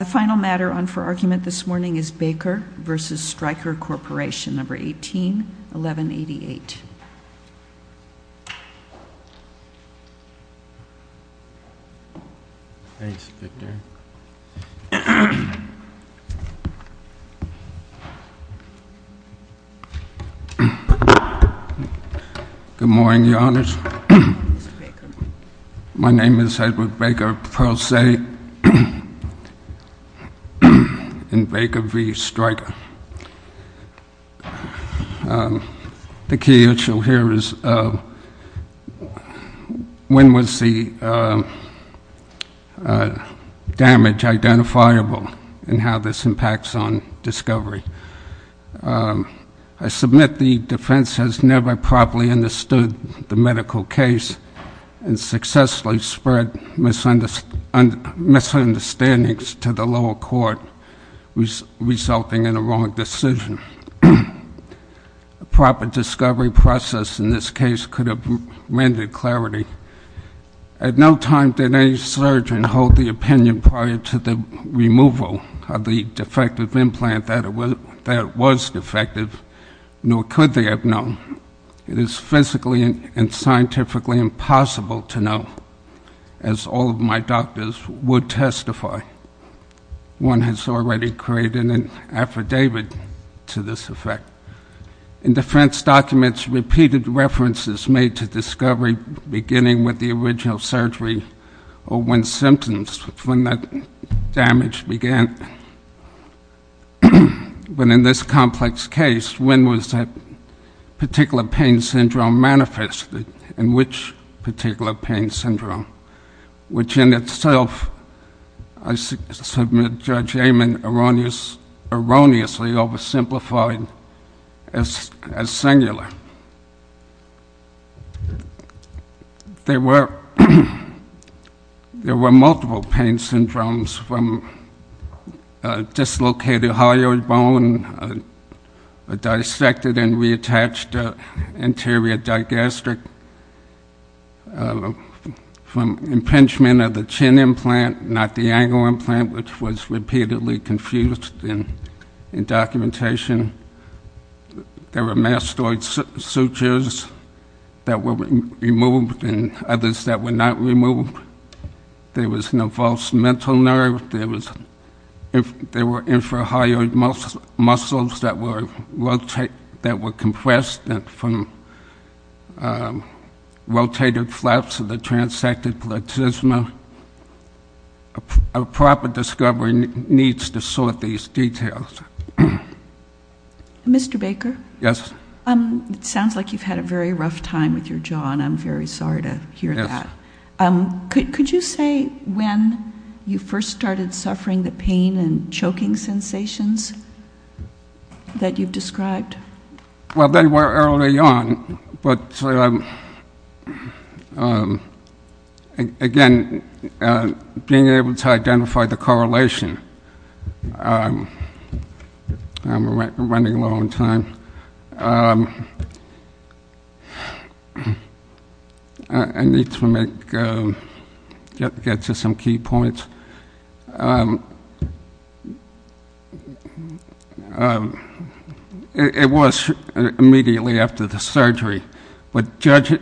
The final matter on for argument this morning is Baker v. Stryker Corporation, No. 18-1188. Good morning, Your Honors. My name is Edward Baker, Pro Se, and Baker v. Stryker. The key issue here is when was the damage identifiable and how this impacts on discovery. I submit the defense has never properly understood the medical case and successfully spread misunderstandings to the lower court, resulting in a wrong decision. A proper discovery process in this case could have rendered clarity. At no time did any surgeon hold the opinion prior to the removal of the defective implant that was defective, nor could they have known. It is physically and scientifically impossible to know, as all of my doctors would testify. One has already created an affidavit to this effect. In defense documents, repeated references made to discovery beginning with the original surgery or when symptoms, when that damage began. But in this complex case, when was that particular pain syndrome manifested and which particular pain syndrome? Which in itself, I submit Judge Amon erroneously oversimplified as singular. There were multiple pain syndromes from dislocated hyoid bone, a dissected and reattached anterior digastric, from impingement of the chin implant, not the ankle implant, which was repeatedly confused in documentation. There were mastoid sutures that were removed and others that were not removed. There was no false mental nerve. There were infrahyoid muscles that were compressed from rotated flaps of the transected platysma. A proper discovery needs to sort these details. Mr. Baker? Yes. It sounds like you've had a very rough time with your jaw, and I'm very sorry to hear that. Yes. Could you say when you first started suffering the pain and choking sensations that you've described? Well, they were early on, but, again, being able to identify the correlation. I'm running low on time. I need to get to some key points. It was immediately after the surgery. But Judge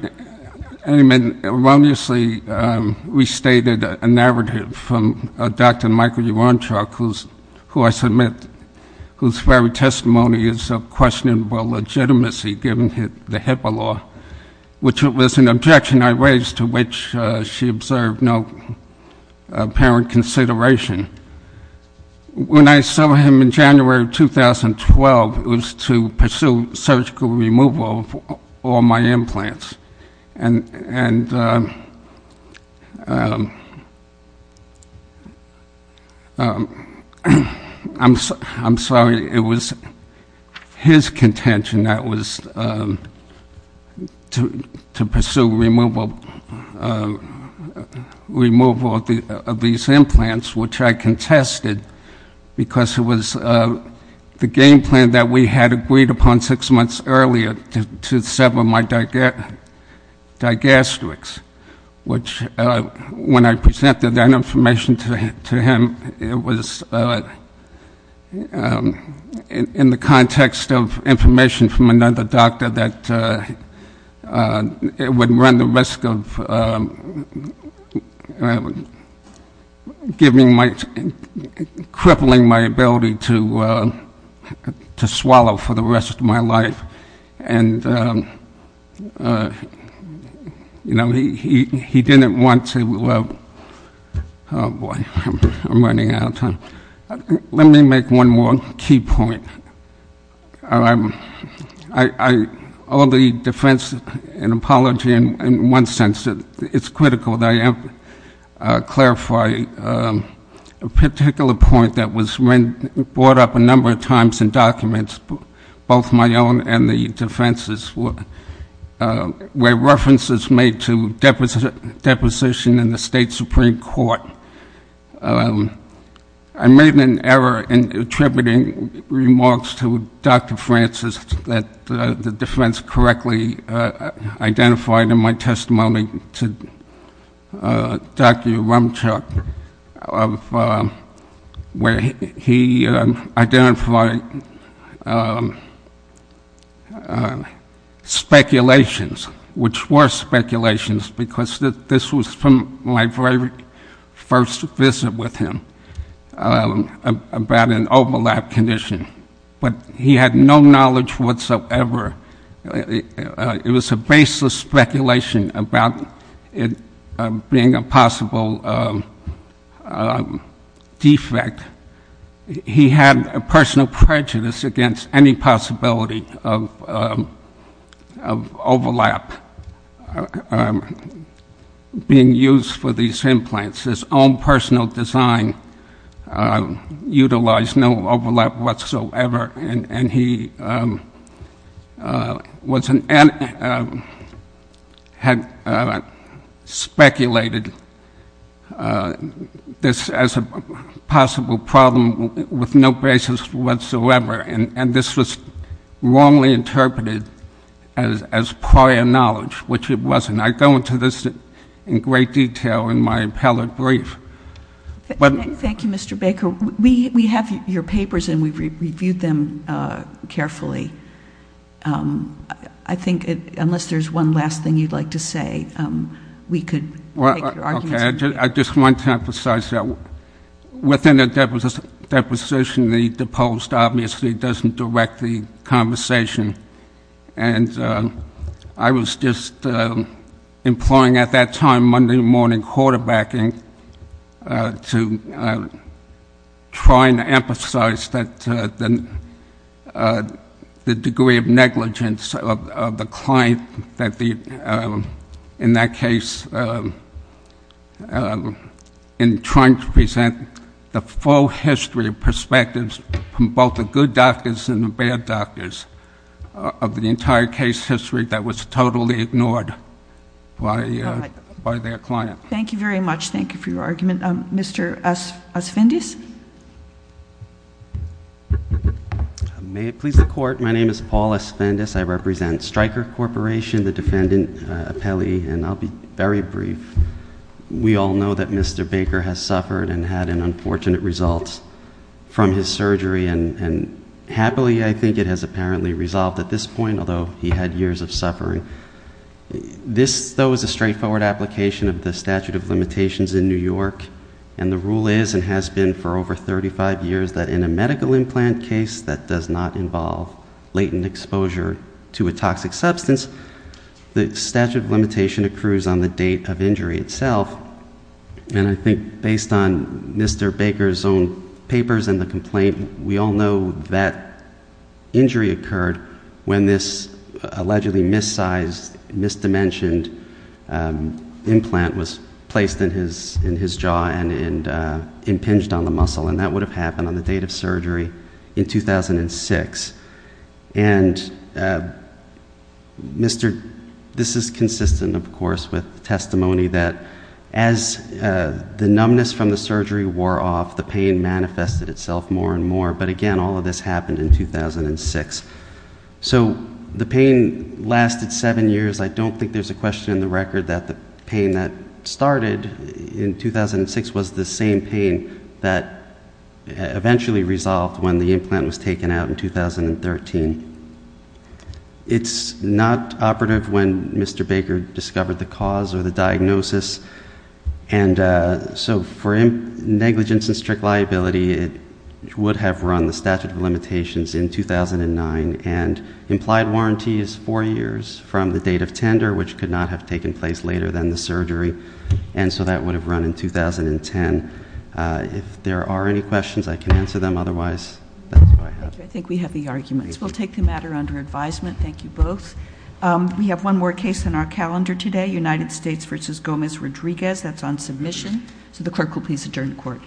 Amon erroneously restated a narrative from Dr. Michael Urontruck, who I submit whose very testimony is of questionable legitimacy, given the HIPAA law, which was an objection I raised to which she observed no apparent consideration. When I saw him in January of 2012, it was to pursue surgical removal of all my implants. And I'm sorry. It was his contention that it was to pursue removal of these implants, which I contested, because it was the game plan that we had agreed upon six months earlier to sever my digastrics, which when I presented that information to him, it was in the context of information from another doctor that it would run the risk of crippling my ability to swallow for the rest of my life. And, you know, he didn't want to, oh, boy, I'm running out of time. Let me make one more key point. I owe the defense an apology in one sense. It's critical that I clarify a particular point that was brought up a number of times in documents, both my own and the defense's, where references made to deposition in the State Supreme Court. I made an error in attributing remarks to Dr. Francis that the defense correctly identified in my testimony to Dr. Rumchick where he identified speculations, which were speculations, because this was from my very first visit with him about an overlap condition. But he had no knowledge whatsoever. It was a baseless speculation about it being a possible defect. He had a personal prejudice against any possibility of overlap being used for these implants. His own personal design utilized no overlap whatsoever, and he had speculated this as a possible problem with no basis whatsoever. And this was wrongly interpreted as prior knowledge, which it wasn't. I go into this in great detail in my appellate brief. Thank you, Mr. Baker. We have your papers, and we've reviewed them carefully. I think unless there's one last thing you'd like to say, we could make your arguments. Okay. I just want to emphasize that within a deposition, the post obviously doesn't direct the conversation. And I was just employing at that time Monday morning quarterbacking to try and emphasize the degree of negligence of the client in that case and trying to present the full history of perspectives from both the good doctors and the bad doctors of the entire case history that was totally ignored by their client. Thank you very much. Thank you for your argument. Mr. Asfendis? May it please the Court, my name is Paul Asfendis. I represent Stryker Corporation, the defendant appellee, and I'll be very brief. We all know that Mr. Baker has suffered and had an unfortunate result from his surgery, and happily I think it has apparently resolved at this point, although he had years of suffering. This, though, is a straightforward application of the statute of limitations in New York, and the rule is and has been for over 35 years that in a medical implant case that does not involve latent exposure to a toxic substance, the statute of limitation accrues on the date of injury itself, and I think based on Mr. Baker's own papers and the complaint, we all know that injury occurred when this allegedly mis-sized, mis-dimensioned implant was placed in his jaw and impinged on the muscle, and that would have happened on the date of surgery in 2006. And this is consistent, of course, with testimony that as the numbness from the surgery wore off, the pain manifested itself more and more, but again, all of this happened in 2006. So the pain lasted seven years. I don't think there's a question in the record that the pain that started in 2006 was the same pain that eventually resolved when the implant was taken out in 2013. It's not operative when Mr. Baker discovered the cause or the diagnosis, and so for negligence and strict liability, it would have run the statute of limitations in 2009 and implied warranties four years from the date of tender, which could not have taken place later than the surgery, and so that would have run in 2010. If there are any questions, I can answer them. Otherwise, that's all I have. Thank you. I think we have the arguments. We'll take the matter under advisement. Thank you both. We have one more case on our calendar today, United States v. Gomez-Rodriguez. That's on submission. So the clerk will please adjourn the court.